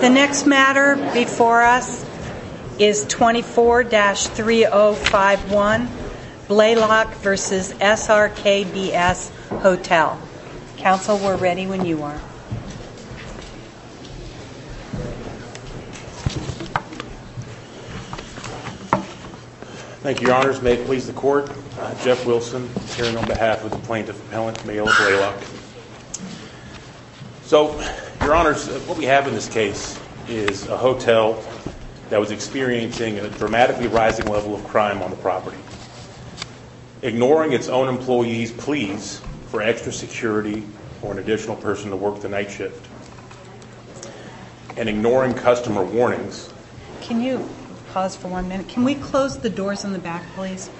The next matter before us is 24-3051 Blalock v. SRKBS Hotel. Counsel, we're ready when you are. Thank you, your honors. May it please the court. Jeff Wilson, appearing on behalf of the plaintiff appellant, Mayilla Blalock. So, your honors, what we have in this case is a hotel that was experiencing a dramatically rising level of crime on the property. Ignoring its own employees' pleas for extra security or an additional person to work the night shift, and ignoring customer warnings. Can you pause for one minute? Can we close the doors in the back, please?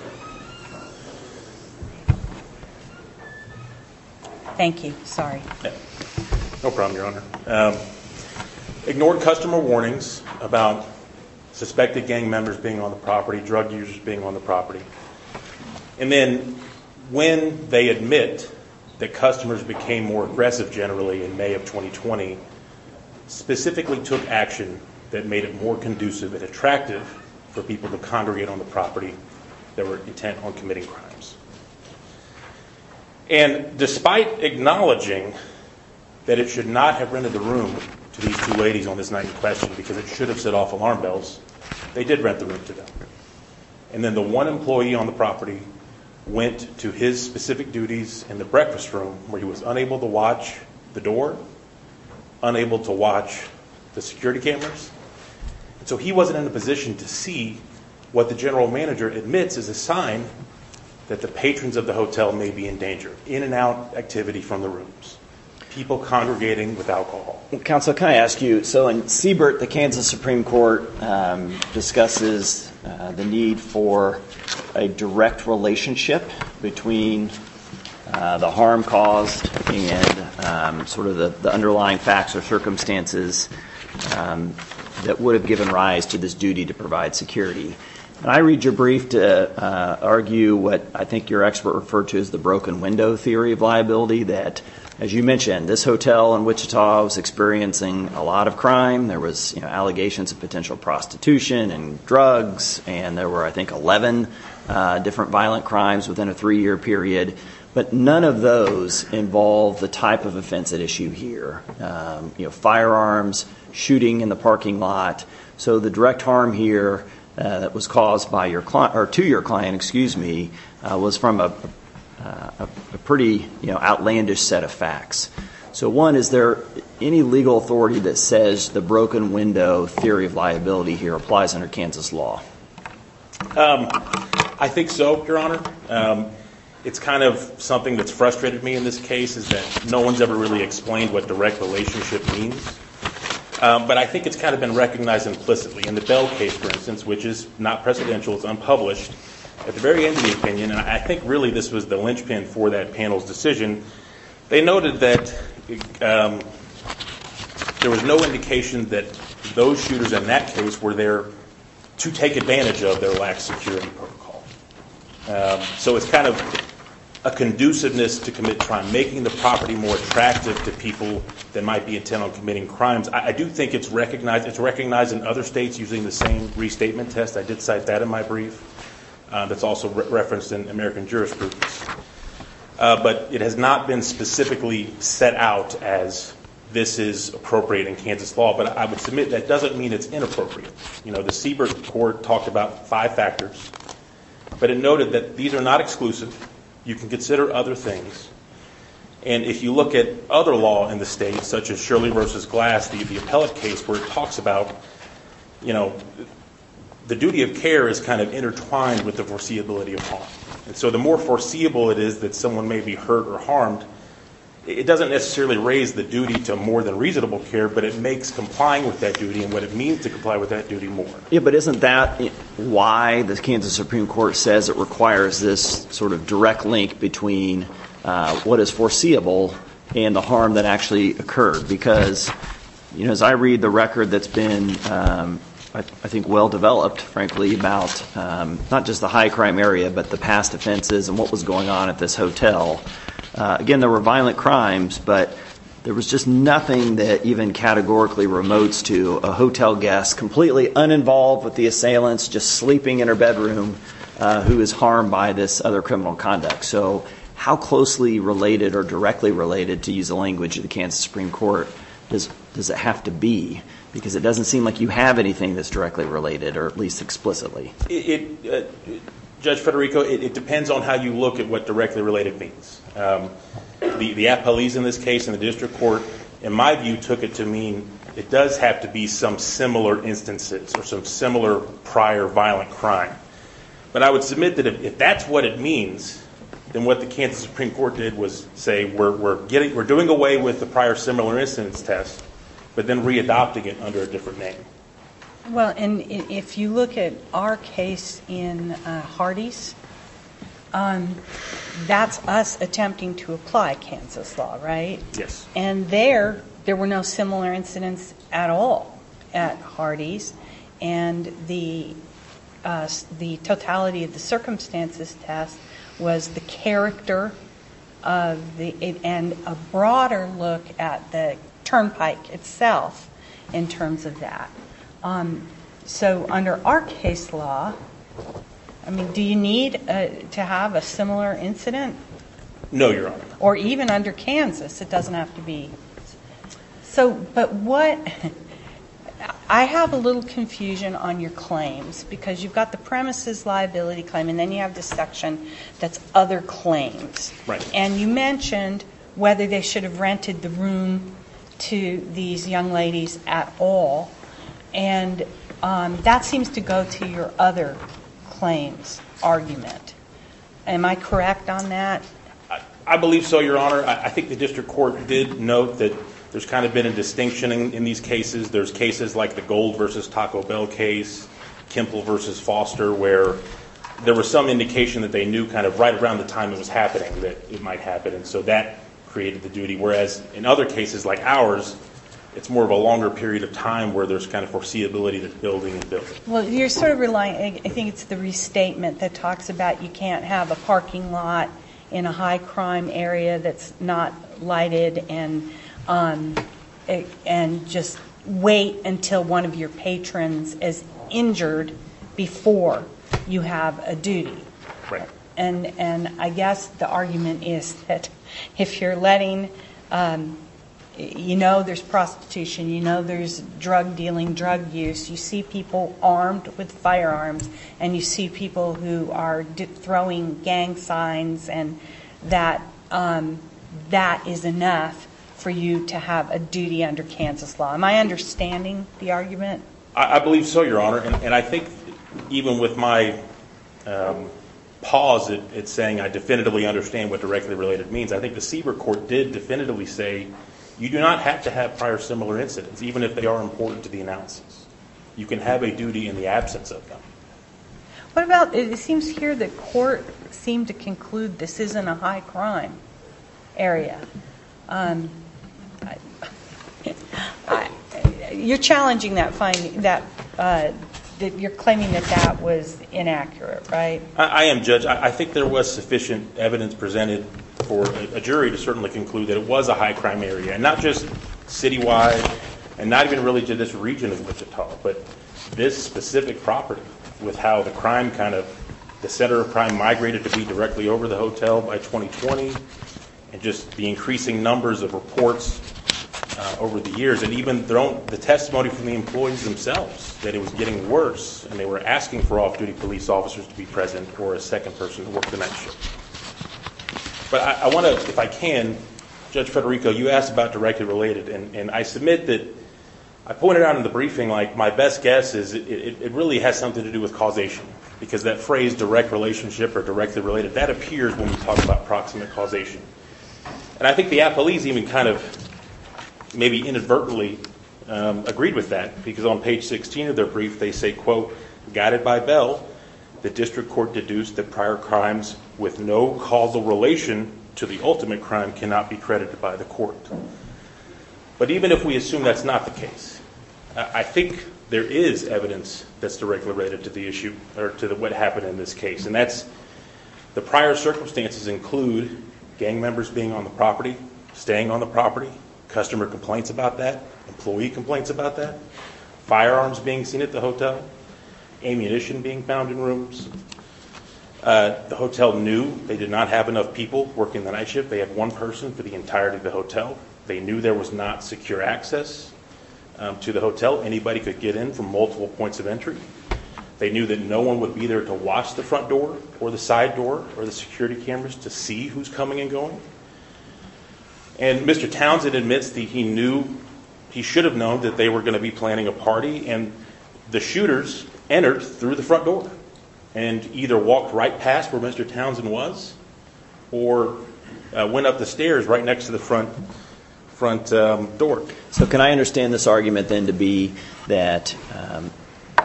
Thank you. Sorry. No problem, your honor. Ignoring customer warnings about suspected gang members being on the property, drug users being on the property, and then when they admit that customers became more aggressive generally in May of 2020, specifically took action that made it more conducive and attractive for people to congregate on the property that were intent on committing crimes. And despite acknowledging that it should not have rented the room to these two ladies on this night in question, because it should have set off alarm bells, they did rent the room to them. And then the one employee on the property went to his specific duties in the breakfast room, where he was unable to watch the door, unable to watch the security cameras. So he wasn't in a position to see what the general manager admits is a sign that the patrons of the hotel may be in danger. In and out activity from the rooms. People congregating with alcohol. Counsel, can I ask you, so in Siebert, the Kansas Supreme Court discusses the need for a direct relationship between the harm caused and sort of the underlying facts or circumstances that would have given rise to this duty to provide security. And I read your brief to argue what I think your expert referred to as the broken window theory of liability, that as you mentioned, this hotel in Wichita was experiencing a lot of crime. There was allegations of potential prostitution and drugs, and there were, I think, 11 different violent crimes within a three-year period. But none of those involve the type of offense at issue here. You know, firearms, shooting in the parking lot. So the direct harm here that was caused to your client was from a pretty outlandish set of facts. So one, is there any legal authority that says the broken window theory of liability here applies under Kansas law? I think so, Your Honor. It's kind of something that's frustrated me in this case is that no one's ever really explained what direct relationship means. But I think it's kind of been recognized implicitly. In the Bell case, for instance, which is not precedential, it's unpublished, at the very end of the opinion, and I think really this was the linchpin for that panel's decision, they noted that there was no indication that those shooters in that case were there to take advantage of their lax security protocol. So it's kind of a conduciveness to commit crime, making the property more attractive to people that might be intent on committing crimes. I do think it's recognized in other states using the same restatement test. I did cite that in my brief. That's also referenced in American jurisprudence. But it has not been specifically set out as this is appropriate in Kansas law. But I would submit that doesn't mean it's inappropriate. The Siebert Court talked about five factors, but it noted that these are not exclusive. You can consider other things. And if you look at other law in the state, such as Shirley v. Glass v. the Appellate case, where it talks about the duty of care is kind of intertwined with the foreseeability of harm. So the more foreseeable it is that someone may be hurt or harmed, it doesn't necessarily raise the duty to more than reasonable care, but it makes complying with that duty and what it means to comply with that duty more. But isn't that why the Kansas Supreme Court says it requires this sort of direct link between what is foreseeable and the harm that actually occurred? Because as I read the record that's been, I think, well-developed, frankly, about not just the high-crime area, but the past offenses and what was going on at this hotel, again, there were violent crimes, but there was just nothing that even categorically remotes to a hotel guest completely uninvolved with the assailants, just sleeping in her bedroom, who was harmed by this other criminal conduct. So how closely related or directly related, to use the language of the Kansas Supreme Court, does it have to be? Because it doesn't seem like you have anything that's directly related, or at least explicitly. Judge Federico, it depends on how you look at what directly related means. The appellees in this case in the district court, in my view, took it to mean it does have to be some similar instances or some similar prior violent crime. But I would submit that if that's what it means, then what the Kansas Supreme Court did was say, we're doing away with the prior similar incidents test, but then readopting it under a different name. Well, and if you look at our case in Hardee's, that's us attempting to apply Kansas law, right? Yes. And there, there were no similar incidents at all at Hardee's, and the totality of the circumstances test was the character and a broader look at the turnpike itself in terms of that. So under our case law, do you need to have a similar incident? No, Your Honor. Or even under Kansas, it doesn't have to be. So, but what, I have a little confusion on your claims, because you've got the premises liability claim, and then you have this section that's other claims. Right. And you mentioned whether they should have rented the room to these young ladies at all, and that seems to go to your other claims argument. Am I correct on that? I believe so, Your Honor. I think the district court did note that there's kind of been a distinction in these cases. There's cases like the Gold v. Taco Bell case, Kimple v. Foster, where there was some indication that they knew kind of right around the time it was happening that it might happen, and so that created the duty, whereas in other cases like ours, it's more of a longer period of time where there's kind of foreseeability that building and building. Well, you're sort of relying, I think it's the restatement that talks about you can't have a parking lot in a high crime area that's not lighted and just wait until one of your patrons is injured before you have a duty. And I guess the argument is that if you're letting, you know there's prostitution, you know there's drug dealing, drug use, you see people armed with firearms, and you see people who are throwing gang signs, and that that is enough for you to have a duty under Kansas law. Am I understanding the argument? I believe so, Your Honor, and I think even with my pause at saying I definitively understand what directly related means, I think the CBER court did definitively say you do not have to have prior similar incidents, even if they are important to the analysis. You can have a duty in the absence of them. What about, it seems here the court seemed to conclude this isn't a high crime area. You're challenging that finding, that you're claiming that that was inaccurate, right? I am, Judge. I think there was sufficient evidence presented for a jury to certainly conclude that it was a high crime area, and not just citywide, and not even really to this region of Wichita, but this specific property with how the crime kind of, the center of crime migrated to be directly over the hotel by 2020, and just the increasing numbers of reports over the years, and even the testimony from the employees themselves that it was getting worse, and they were asking for off-duty police officers to be present or a second person to work the night shift. But I want to, if I can, Judge Federico, you asked about directly related, and I submit that I pointed out in the briefing, like, my best guess is it really has something to do with causation, because that phrase direct relationship or directly related, that appears when we talk about proximate causation. And I think the Applees even kind of maybe inadvertently agreed with that, because on page 16 of their brief they say, quote, guided by Bell, the district court deduced that prior crimes with no causal relation to the ultimate crime cannot be credited by the court. But even if we assume that's not the case, I think there is evidence that's directly related to the issue, or to what happened in this case, and that's the prior circumstances include gang members being on the property, staying on the property, customer complaints about that, employee complaints about that, firearms being seen at the hotel, ammunition being found in rooms. The hotel knew they did not have enough people working the night shift. They had one person for the entirety of the hotel. They knew there was not secure access to the hotel. Anybody could get in from multiple points of entry. They knew that no one would be there to watch the front door or the side door or the security cameras to see who's coming and going. And Mr. Townsend admits that he knew, he should have known that they were going to be planning a party, and the shooters entered through the front door and either walked right past where Mr. Townsend was or went up the stairs right next to the front door. So can I understand this argument then to be that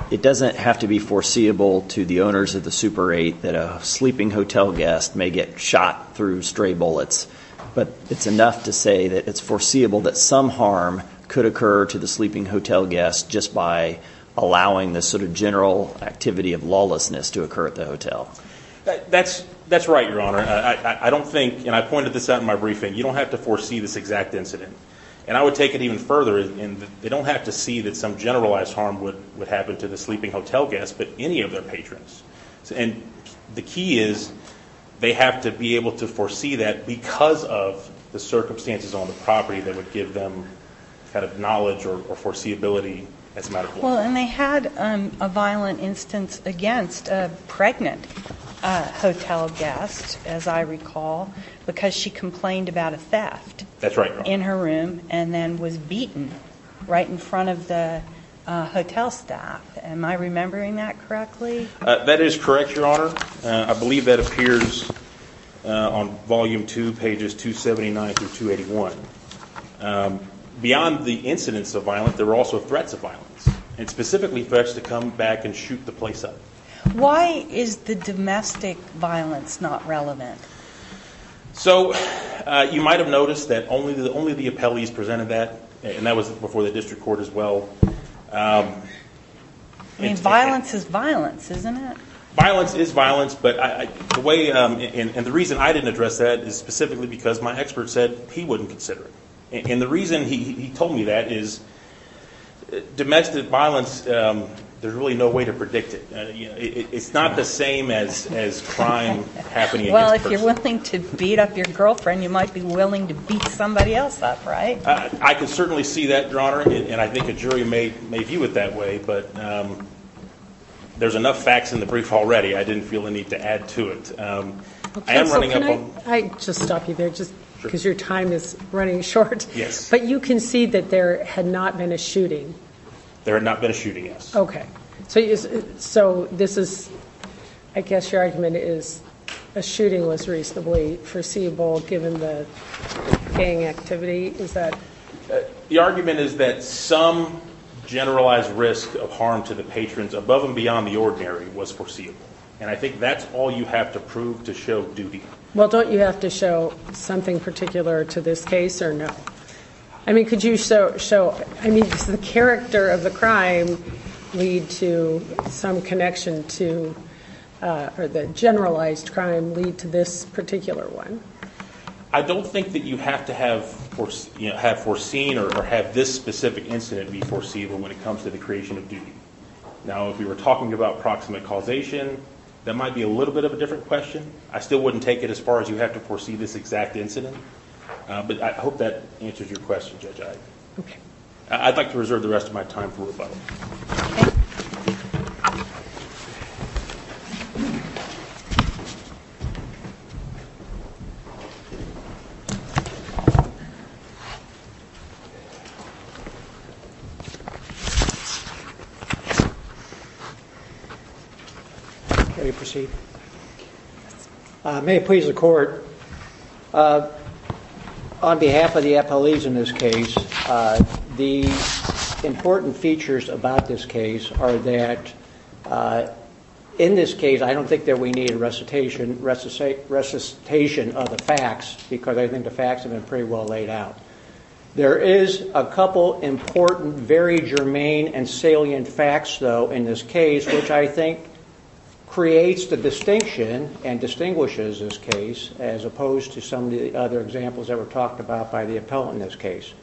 it doesn't have to be foreseeable to the owners of the Super 8 that a sleeping hotel guest may get shot through stray bullets, but it's enough to say that it's foreseeable that some harm could occur to the sleeping hotel guest just by allowing this sort of general activity of lawlessness to occur at the hotel? That's right, Your Honor. I don't think, and I pointed this out in my briefing, you don't have to foresee this exact incident. And I would take it even further in that they don't have to see that some generalized harm would happen to the sleeping hotel guest but any of their patrons. And the key is they have to be able to foresee that because of the circumstances on the property that would give them kind of knowledge or foreseeability as a matter of law. Well, and they had a violent instance against a pregnant hotel guest, as I recall, because she complained about a theft in her room and then was beaten right in front of the hotel staff. Am I remembering that correctly? That is correct, Your Honor. I believe that appears on Volume 2, pages 279 through 281. Beyond the incidents of violence, there were also threats of violence, and specifically threats to come back and shoot the place up. Why is the domestic violence not relevant? So you might have noticed that only the appellees presented that, and that was before the district court as well. I mean, violence is violence, isn't it? Violence is violence, and the reason I didn't address that is specifically because my expert said he wouldn't consider it. And the reason he told me that is domestic violence, there's really no way to predict it. It's not the same as crime happening against a person. Well, if you're willing to beat up your girlfriend, you might be willing to beat somebody else up, right? I can certainly see that, Your Honor, and I think a jury may view it that way, but there's enough facts in the brief already I didn't feel the need to add to it. Counsel, can I just stop you there just because your time is running short? Yes. But you concede that there had not been a shooting? There had not been a shooting, yes. Okay. So I guess your argument is a shooting was reasonably foreseeable given the gang activity? The argument is that some generalized risk of harm to the patrons above and beyond the ordinary was foreseeable, and I think that's all you have to prove to show duty. Well, don't you have to show something particular to this case or no? I mean, could you show, I mean, does the character of the crime lead to some connection to or the generalized crime lead to this particular one? I don't think that you have to have foreseen or have this specific incident be foreseeable when it comes to the creation of duty. Now, if we were talking about proximate causation, that might be a little bit of a different question. I still wouldn't take it as far as you have to foresee this exact incident, but I hope that answers your question, Judge Ivey. Okay. I'd like to reserve the rest of my time for rebuttal. Okay. Thank you. May I proceed? May it please the Court. On behalf of the appellees in this case, the important features about this case are that in this case, I don't think that we need a recitation of the facts because I think the facts have been pretty well laid out. There is a couple important, very germane and salient facts, though, in this case, which I think creates the distinction and distinguishes this case as opposed to some of the other examples that were talked about by the appellant in this case.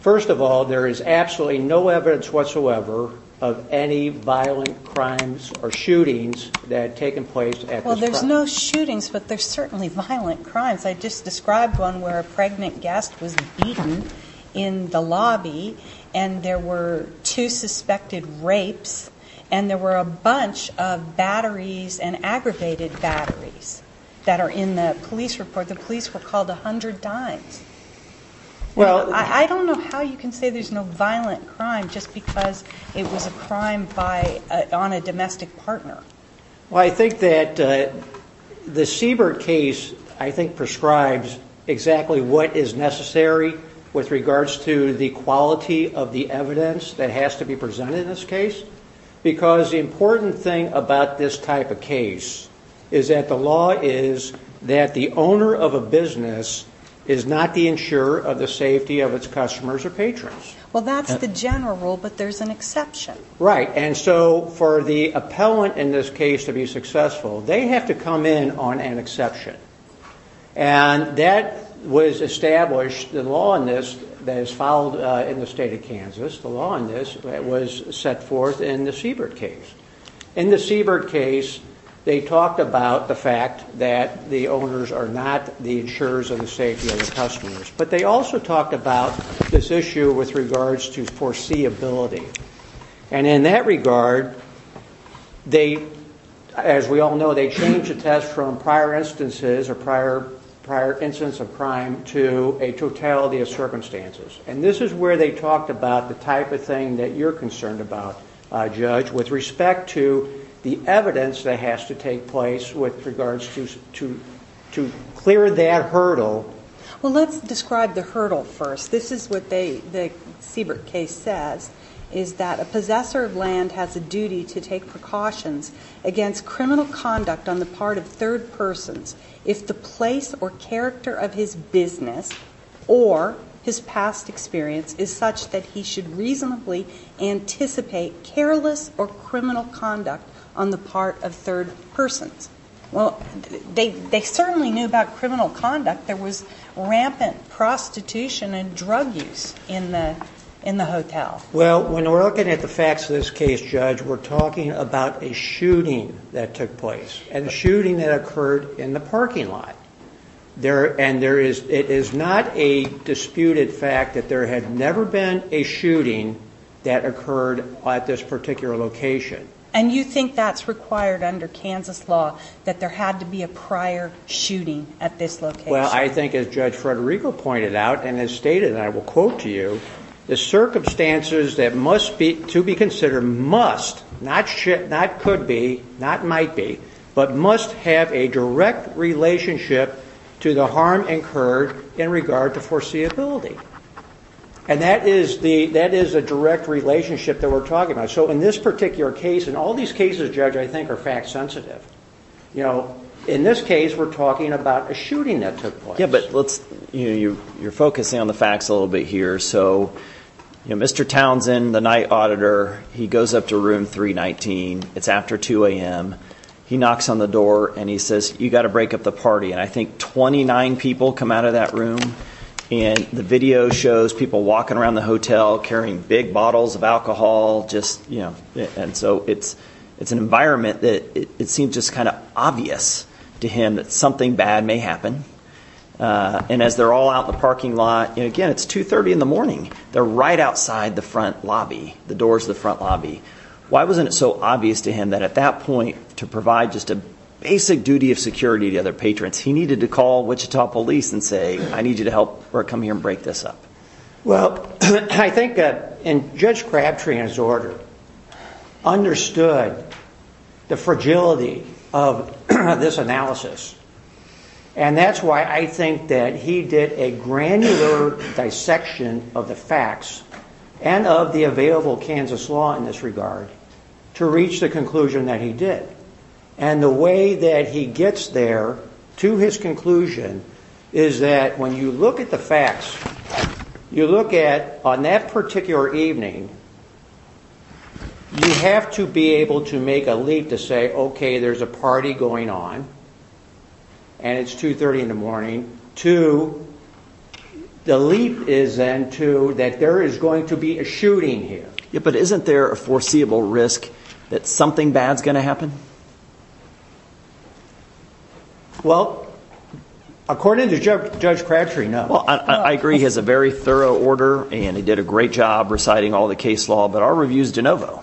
First of all, there is absolutely no evidence whatsoever of any violent crimes or shootings that had taken place at this property. Well, there's no shootings, but there's certainly violent crimes. I just described one where a pregnant guest was beaten in the lobby, and there were two suspected rapes, and there were a bunch of batteries and aggravated batteries that are in the police report. The police were called 100 times. I don't know how you can say there's no violent crime just because it was a crime on a domestic partner. Well, I think that the Siebert case, I think, prescribes exactly what is necessary with regards to the quality of the evidence that has to be presented in this case because the important thing about this type of case is that the law is that the owner of a business is not the insurer of the safety of its customers or patrons. Well, that's the general rule, but there's an exception. Right, and so for the appellant in this case to be successful, they have to come in on an exception. And that was established, the law in this that is followed in the State of Kansas, the law in this was set forth in the Siebert case. In the Siebert case, they talked about the fact that the owners are not the insurers of the safety of the customers, but they also talked about this issue with regards to foreseeability. And in that regard, they, as we all know, they change the test from prior instances or prior incidents of crime to a totality of circumstances. And this is where they talked about the type of thing that you're concerned about, Judge, with respect to the evidence that has to take place with regards to clear that hurdle. Well, let's describe the hurdle first. This is what the Siebert case says is that a possessor of land has a duty to take precautions against criminal conduct on the part of third persons if the place or character of his business or his past experience is such that he should reasonably anticipate careless or criminal conduct on the part of third persons. Well, they certainly knew about criminal conduct. There was rampant prostitution and drug use in the hotel. Well, when we're looking at the facts of this case, Judge, we're talking about a shooting that took place and a shooting that occurred in the parking lot. And it is not a disputed fact that there had never been a shooting that occurred at this particular location. And you think that's required under Kansas law, that there had to be a prior shooting at this location? Well, I think as Judge Federico pointed out and has stated, and I will quote to you, the circumstances that must be, to be considered must, not could be, not might be, but must have a direct relationship to the harm incurred in regard to foreseeability. And that is a direct relationship that we're talking about. So in this particular case, and all these cases, Judge, I think are fact sensitive. In this case, we're talking about a shooting that took place. Yeah, but you're focusing on the facts a little bit here. So Mr. Townsend, the night auditor, he goes up to room 319. It's after 2 a.m. He knocks on the door and he says, you've got to break up the party. And I think 29 people come out of that room. And the video shows people walking around the hotel carrying big bottles of alcohol. And so it's an environment that it seems just kind of obvious to him that something bad may happen. And as they're all out in the parking lot, and again, it's 2.30 in the morning. They're right outside the front lobby, the doors of the front lobby. Why wasn't it so obvious to him that at that point, to provide just a basic duty of security to other patrons, he needed to call Wichita police and say, I need you to help or come here and break this up? Well, I think Judge Crabtree, in his order, understood the fragility of this analysis. And that's why I think that he did a granular dissection of the facts and of the available Kansas law in this regard to reach the conclusion that he did. And the way that he gets there to his conclusion is that when you look at the facts, you look at on that particular evening, you have to be able to make a leap to say, okay, there's a party going on, and it's 2.30 in the morning, to the leap is then to that there is going to be a shooting here. But isn't there a foreseeable risk that something bad is going to happen? Well, according to Judge Crabtree, no. Well, I agree he has a very thorough order, and he did a great job reciting all the case law, but our review is de novo.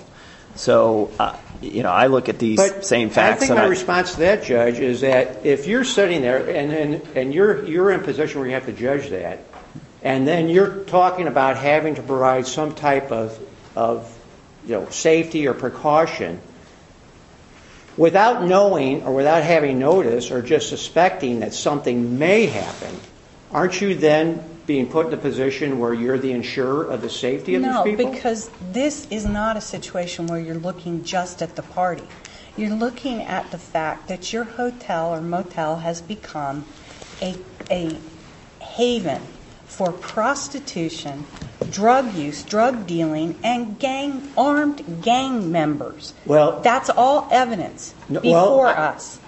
So I look at these same facts. But I think my response to that, Judge, is that if you're sitting there and you're in a position where you have to judge that, and then you're talking about having to provide some type of safety or precaution, without knowing or without having noticed or just suspecting that something may happen, aren't you then being put in a position where you're the insurer of the safety of these people? Because this is not a situation where you're looking just at the party. You're looking at the fact that your hotel or motel has become a haven for prostitution, drug use, drug dealing, and armed gang members. That's all evidence before us.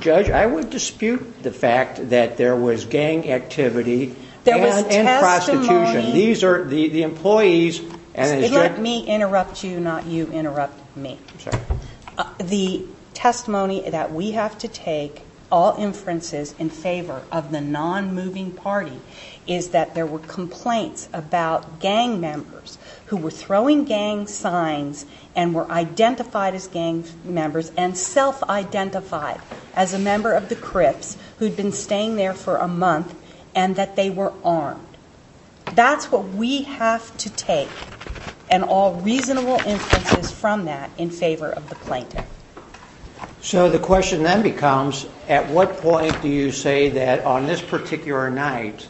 Judge, I would dispute the fact that there was gang activity and prostitution. Let me interrupt you, not you interrupt me. I'm sorry. The testimony that we have to take, all inferences in favor of the non-moving party, is that there were complaints about gang members who were throwing gang signs and were identified as gang members and self-identified as a member of the Crips who'd been staying there for a month and that they were armed. That's what we have to take, and all reasonable inferences from that, in favor of the plaintiff. So the question then becomes, at what point do you say that on this particular night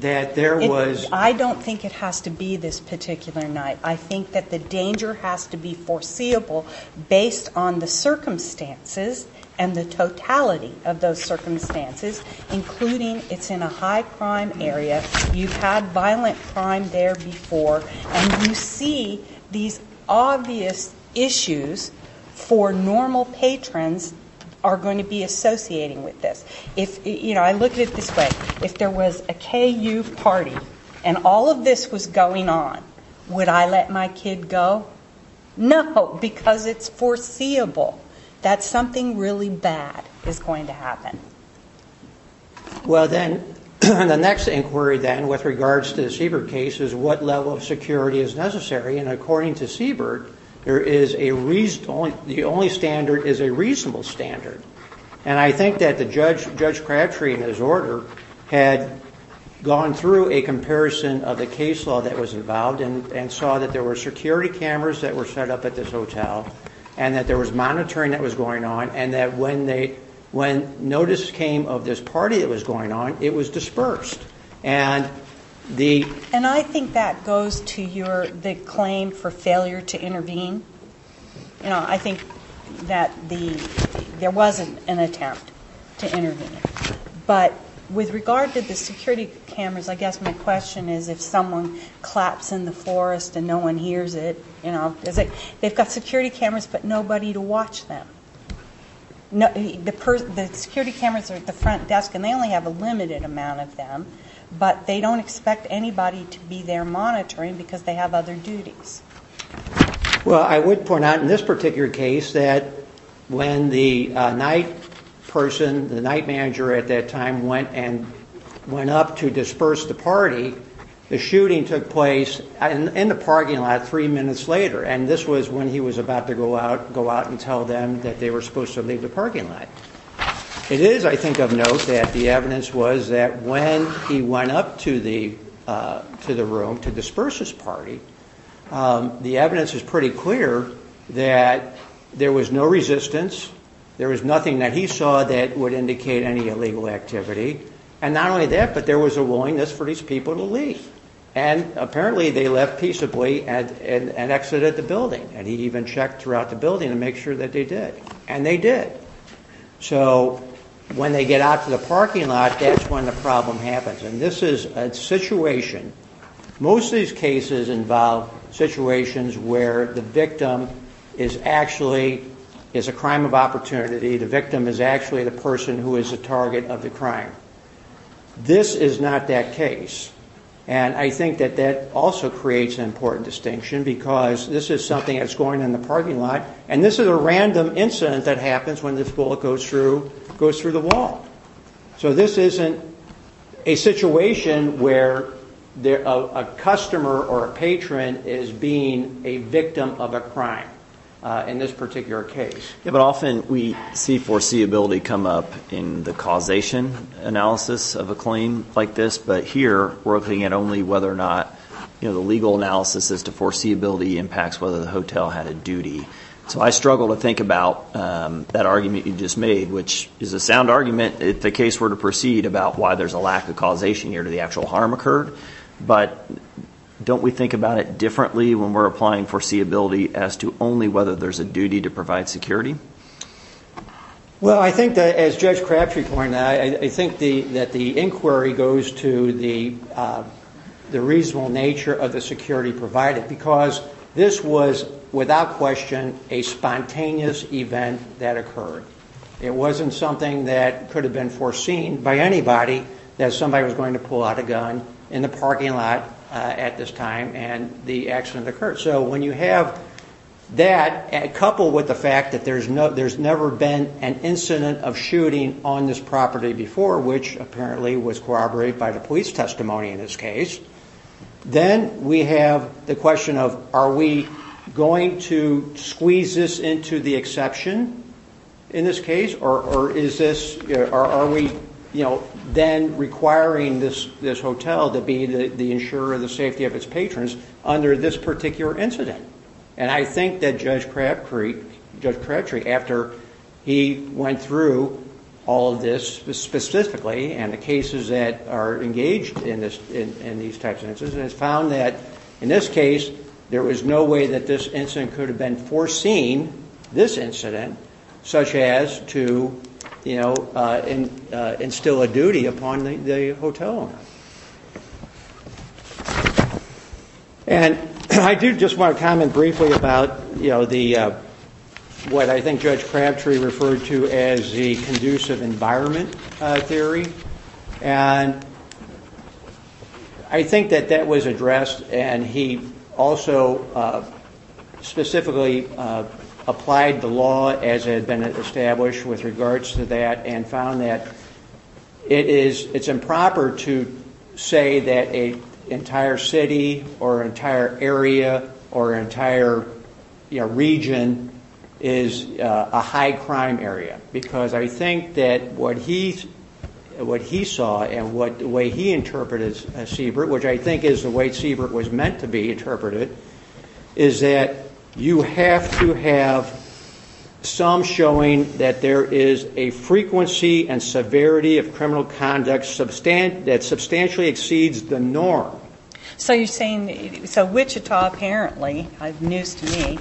that there was... I don't think it has to be this particular night. I think that the danger has to be foreseeable based on the circumstances and the totality of those circumstances, including it's in a high-crime area, you've had violent crime there before, and you see these obvious issues for normal patrons are going to be associating with this. I look at it this way. If there was a KU party and all of this was going on, would I let my kid go? No, because it's foreseeable that something really bad is going to happen. Well, then, the next inquiry then with regards to the Siebert case is what level of security is necessary, and according to Siebert, the only standard is a reasonable standard. And I think that Judge Cratchery, in his order, had gone through a comparison of the case law that was involved and saw that there were security cameras that were set up at this hotel and that there was monitoring that was going on and that when notice came of this party that was going on, it was dispersed. And I think that goes to the claim for failure to intervene. I think that there was an attempt to intervene, but with regard to the security cameras, I guess my question is if someone claps in the forest and no one hears it, they've got security cameras but nobody to watch them. The security cameras are at the front desk, and they only have a limited amount of them, but they don't expect anybody to be there monitoring because they have other duties. Well, I would point out in this particular case that when the night person, the night manager at that time, went up to disperse the party, the shooting took place in the parking lot three minutes later, and this was when he was about to go out and tell them that they were supposed to leave the parking lot. It is, I think, of note that the evidence was that when he went up to the room to disperse his party, the evidence is pretty clear that there was no resistance, there was nothing that he saw that would indicate any illegal activity, and not only that, but there was a willingness for these people to leave. And apparently they left peaceably and exited the building, and he even checked throughout the building to make sure that they did, and they did. So when they get out to the parking lot, that's when the problem happens, and this is a situation. Most of these cases involve situations where the victim is actually, is a crime of opportunity, the victim is actually the person who is the target of the crime. This is not that case, and I think that that also creates an important distinction because this is something that's going on in the parking lot, and this is a random incident that happens when this bullet goes through the wall. So this isn't a situation where a customer or a patron is being a victim of a crime in this particular case. Yeah, but often we see foreseeability come up in the causation analysis of a claim like this, but here we're looking at only whether or not the legal analysis as to foreseeability impacts whether the hotel had a duty. So I struggle to think about that argument you just made, which is a sound argument if the case were to proceed about why there's a lack of causation here to the actual harm occurred, but don't we think about it differently when we're applying foreseeability as to only whether there's a duty to provide security? Well, I think that, as Judge Crabtree pointed out, I think that the inquiry goes to the reasonable nature of the security provided because this was, without question, a spontaneous event that occurred. It wasn't something that could have been foreseen by anybody, that somebody was going to pull out a gun in the parking lot at this time and the accident occurred. So when you have that coupled with the fact that there's never been an incident of shooting on this property before, which apparently was corroborated by the police testimony in this case, then we have the question of are we going to squeeze this into the exception in this case, or are we then requiring this hotel to be the insurer of the safety of its patrons under this particular incident? And I think that Judge Crabtree, after he went through all of this specifically and the cases that are engaged in these types of incidents, has found that in this case there was no way that this incident could have been foreseen, this incident, such as to instill a duty upon the hotel owner. And I do just want to comment briefly about what I think Judge Crabtree referred to as the conducive environment theory. And I think that that was addressed, and he also specifically applied the law as it had been established with regards to that and found that it's improper to say that an entire city or entire area or entire region is a high crime area, because I think that what he saw and the way he interpreted Seabrook, which I think is the way Seabrook was meant to be interpreted, is that you have to have some showing that there is a frequency and severity of criminal conduct that substantially exceeds the norm. So you're saying, so Wichita apparently, news to me,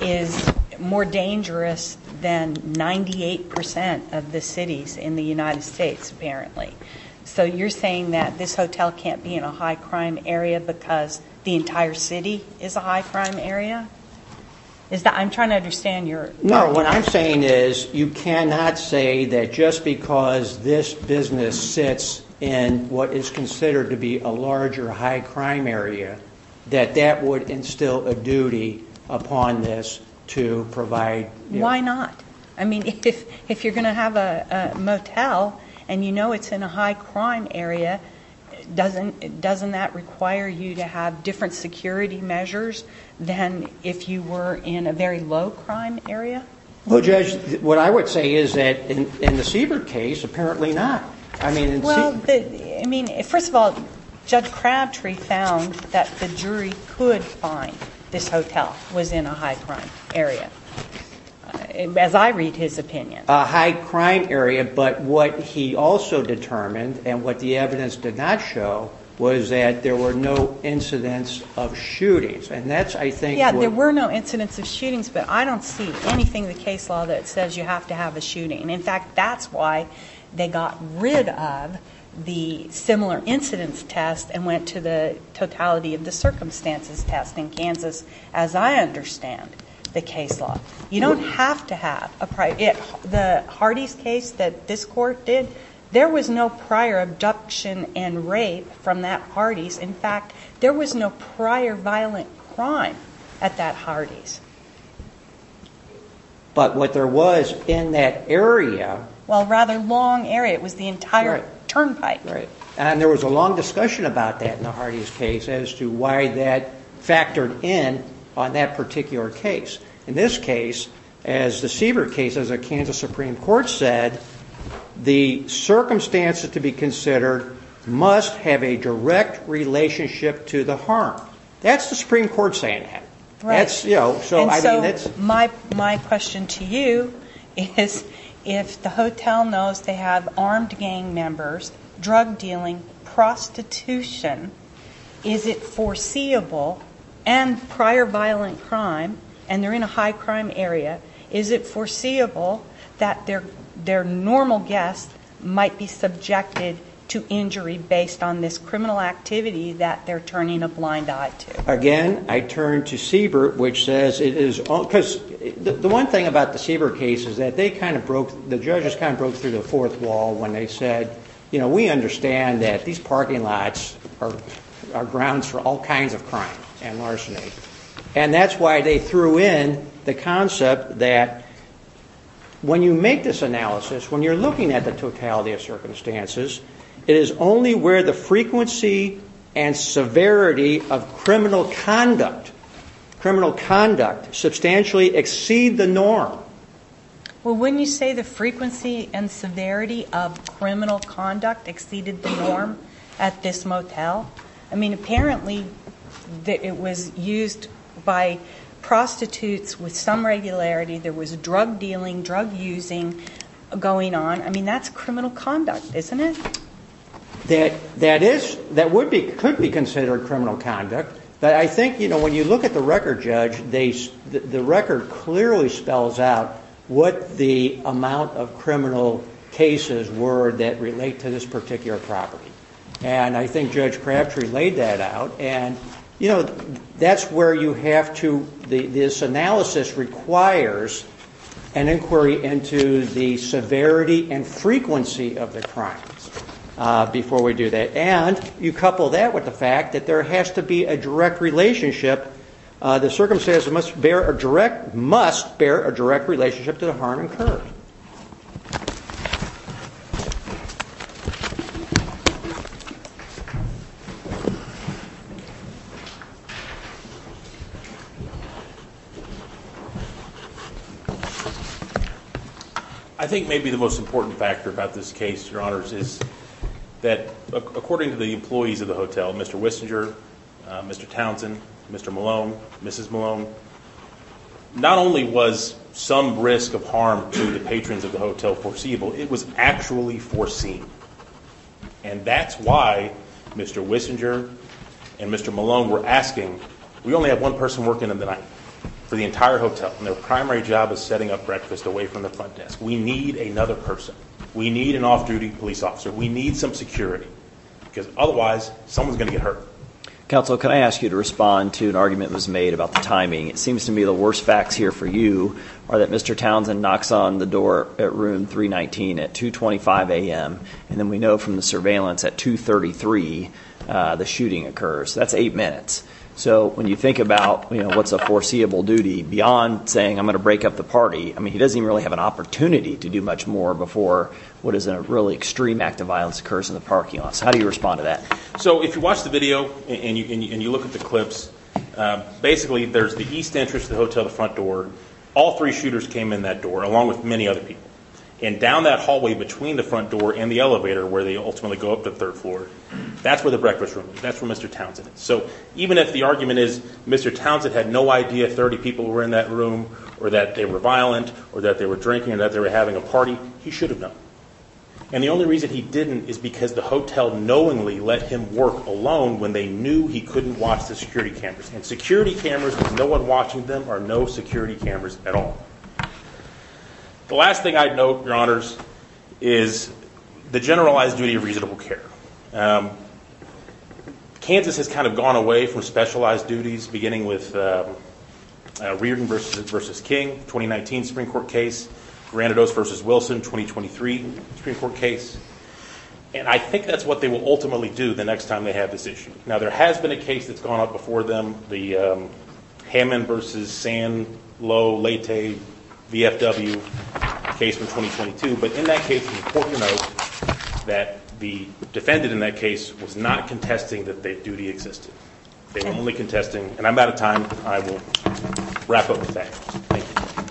is more dangerous than 98% of the cities in the United States, apparently. So you're saying that this hotel can't be in a high crime area because the entire city is a high crime area? Is that, I'm trying to understand your... No, what I'm saying is you cannot say that just because this business sits in what is considered to be a larger high crime area, that that would instill a duty upon this to provide... Why not? I mean, if you're going to have a motel and you know it's in a high crime area, doesn't that require you to have different security measures than if you were in a very low crime area? Well, Judge, what I would say is that in the Seabrook case, apparently not. Well, first of all, Judge Crabtree found that the jury could find this hotel was in a high crime area, as I read his opinion. A high crime area, but what he also determined, and what the evidence did not show, was that there were no incidents of shootings. And that's, I think... Yeah, there were no incidents of shootings, but I don't see anything in the case law that says you have to have a shooting. In fact, that's why they got rid of the similar incidence test and went to the totality of the circumstances test in Kansas, as I understand the case law. You don't have to have a prior... The Hardee's case that this court did, there was no prior abduction and rape from that Hardee's. In fact, there was no prior violent crime at that Hardee's. But what there was in that area... Well, a rather long area. It was the entire turnpike. And there was a long discussion about that in the Hardee's case as to why that factored in on that particular case. In this case, as the Seabrook case, as a Kansas Supreme Court said, the circumstances to be considered must have a direct relationship to the harm. That's the Supreme Court saying that. And so my question to you is, if the hotel knows they have armed gang members, drug dealing, prostitution, is it foreseeable, and prior violent crime, and they're in a high crime area, is it foreseeable that their normal guest might be subjected to injury based on this criminal activity that they're turning a blind eye to? Again, I turn to Seabrook, which says it is... Because the one thing about the Seabrook case is that they kind of broke... The judges kind of broke through the fourth wall when they said, you know, we understand that these parking lots are grounds for all kinds of crime and larceny. And that's why they threw in the concept that when you make this analysis, when you're looking at the totality of circumstances, it is only where the frequency and severity of criminal conduct substantially exceed the norm. Well, wouldn't you say the frequency and severity of criminal conduct exceeded the norm at this motel? I mean, apparently it was used by prostitutes with some regularity. There was drug dealing, drug using going on. I mean, that's criminal conduct, isn't it? That could be considered criminal conduct. But I think, you know, when you look at the record, Judge, the record clearly spells out what the amount of criminal cases were that relate to this particular property. And I think Judge Crabtree laid that out. And, you know, that's where you have to... This analysis requires an inquiry into the severity and frequency of the crimes before we do that. And you couple that with the fact that there has to be a direct relationship. The circumstances must bear a direct relationship to the harm incurred. I think maybe the most important factor about this case, Your Honors, is that according to the employees of the hotel, Mr. Wissinger, Mr. Townsend, Mr. Malone, Mrs. Malone, not only was some risk of harm to the patrons of the hotel foreseeable, it was actually foreseen. And that's why Mr. Wissinger and Mr. Malone were asking, we only have one person working in the night for the entire hotel, and their primary job is setting up breakfast away from the front desk. We need another person. We need an off-duty police officer. We need some security. Because otherwise, someone's going to get hurt. Counsel, can I ask you to respond to an argument that was made about the timing? It seems to me the worst facts here for you are that Mr. Townsend knocks on the door at room 319 at 2.25 a.m., and then we know from the surveillance at 2.33 the shooting occurs. That's eight minutes. So when you think about, you know, what's a foreseeable duty, beyond saying I'm going to break up the party, I mean he doesn't even really have an opportunity to do much more before what is a really extreme act of violence occurs in the parking lot. So how do you respond to that? So if you watch the video and you look at the clips, basically there's the east entrance to the hotel, the front door. All three shooters came in that door along with many other people. And down that hallway between the front door and the elevator where they ultimately go up to the third floor, that's where the breakfast room is. That's where Mr. Townsend is. So even if the argument is Mr. Townsend had no idea 30 people were in that room or that they were violent or that they were drinking or that they were having a party, he should have known. And the only reason he didn't is because the hotel knowingly let him work alone when they knew he couldn't watch the security cameras. And security cameras, with no one watching them, are no security cameras at all. The last thing I'd note, Your Honors, is the generalized duty of reasonable care. Kansas has kind of gone away from specialized duties, beginning with Reardon v. King, 2019 Supreme Court case, Granados v. Wilson, 2023 Supreme Court case. And I think that's what they will ultimately do the next time they have this issue. Now, there has been a case that's gone up before them, the Hammond v. Sanlo Leyte VFW case from 2022. But in that case, it's important to note that the defendant in that case was not contesting that they duty existed. They were only contesting—and I'm out of time. I will wrap up with that. Thank you.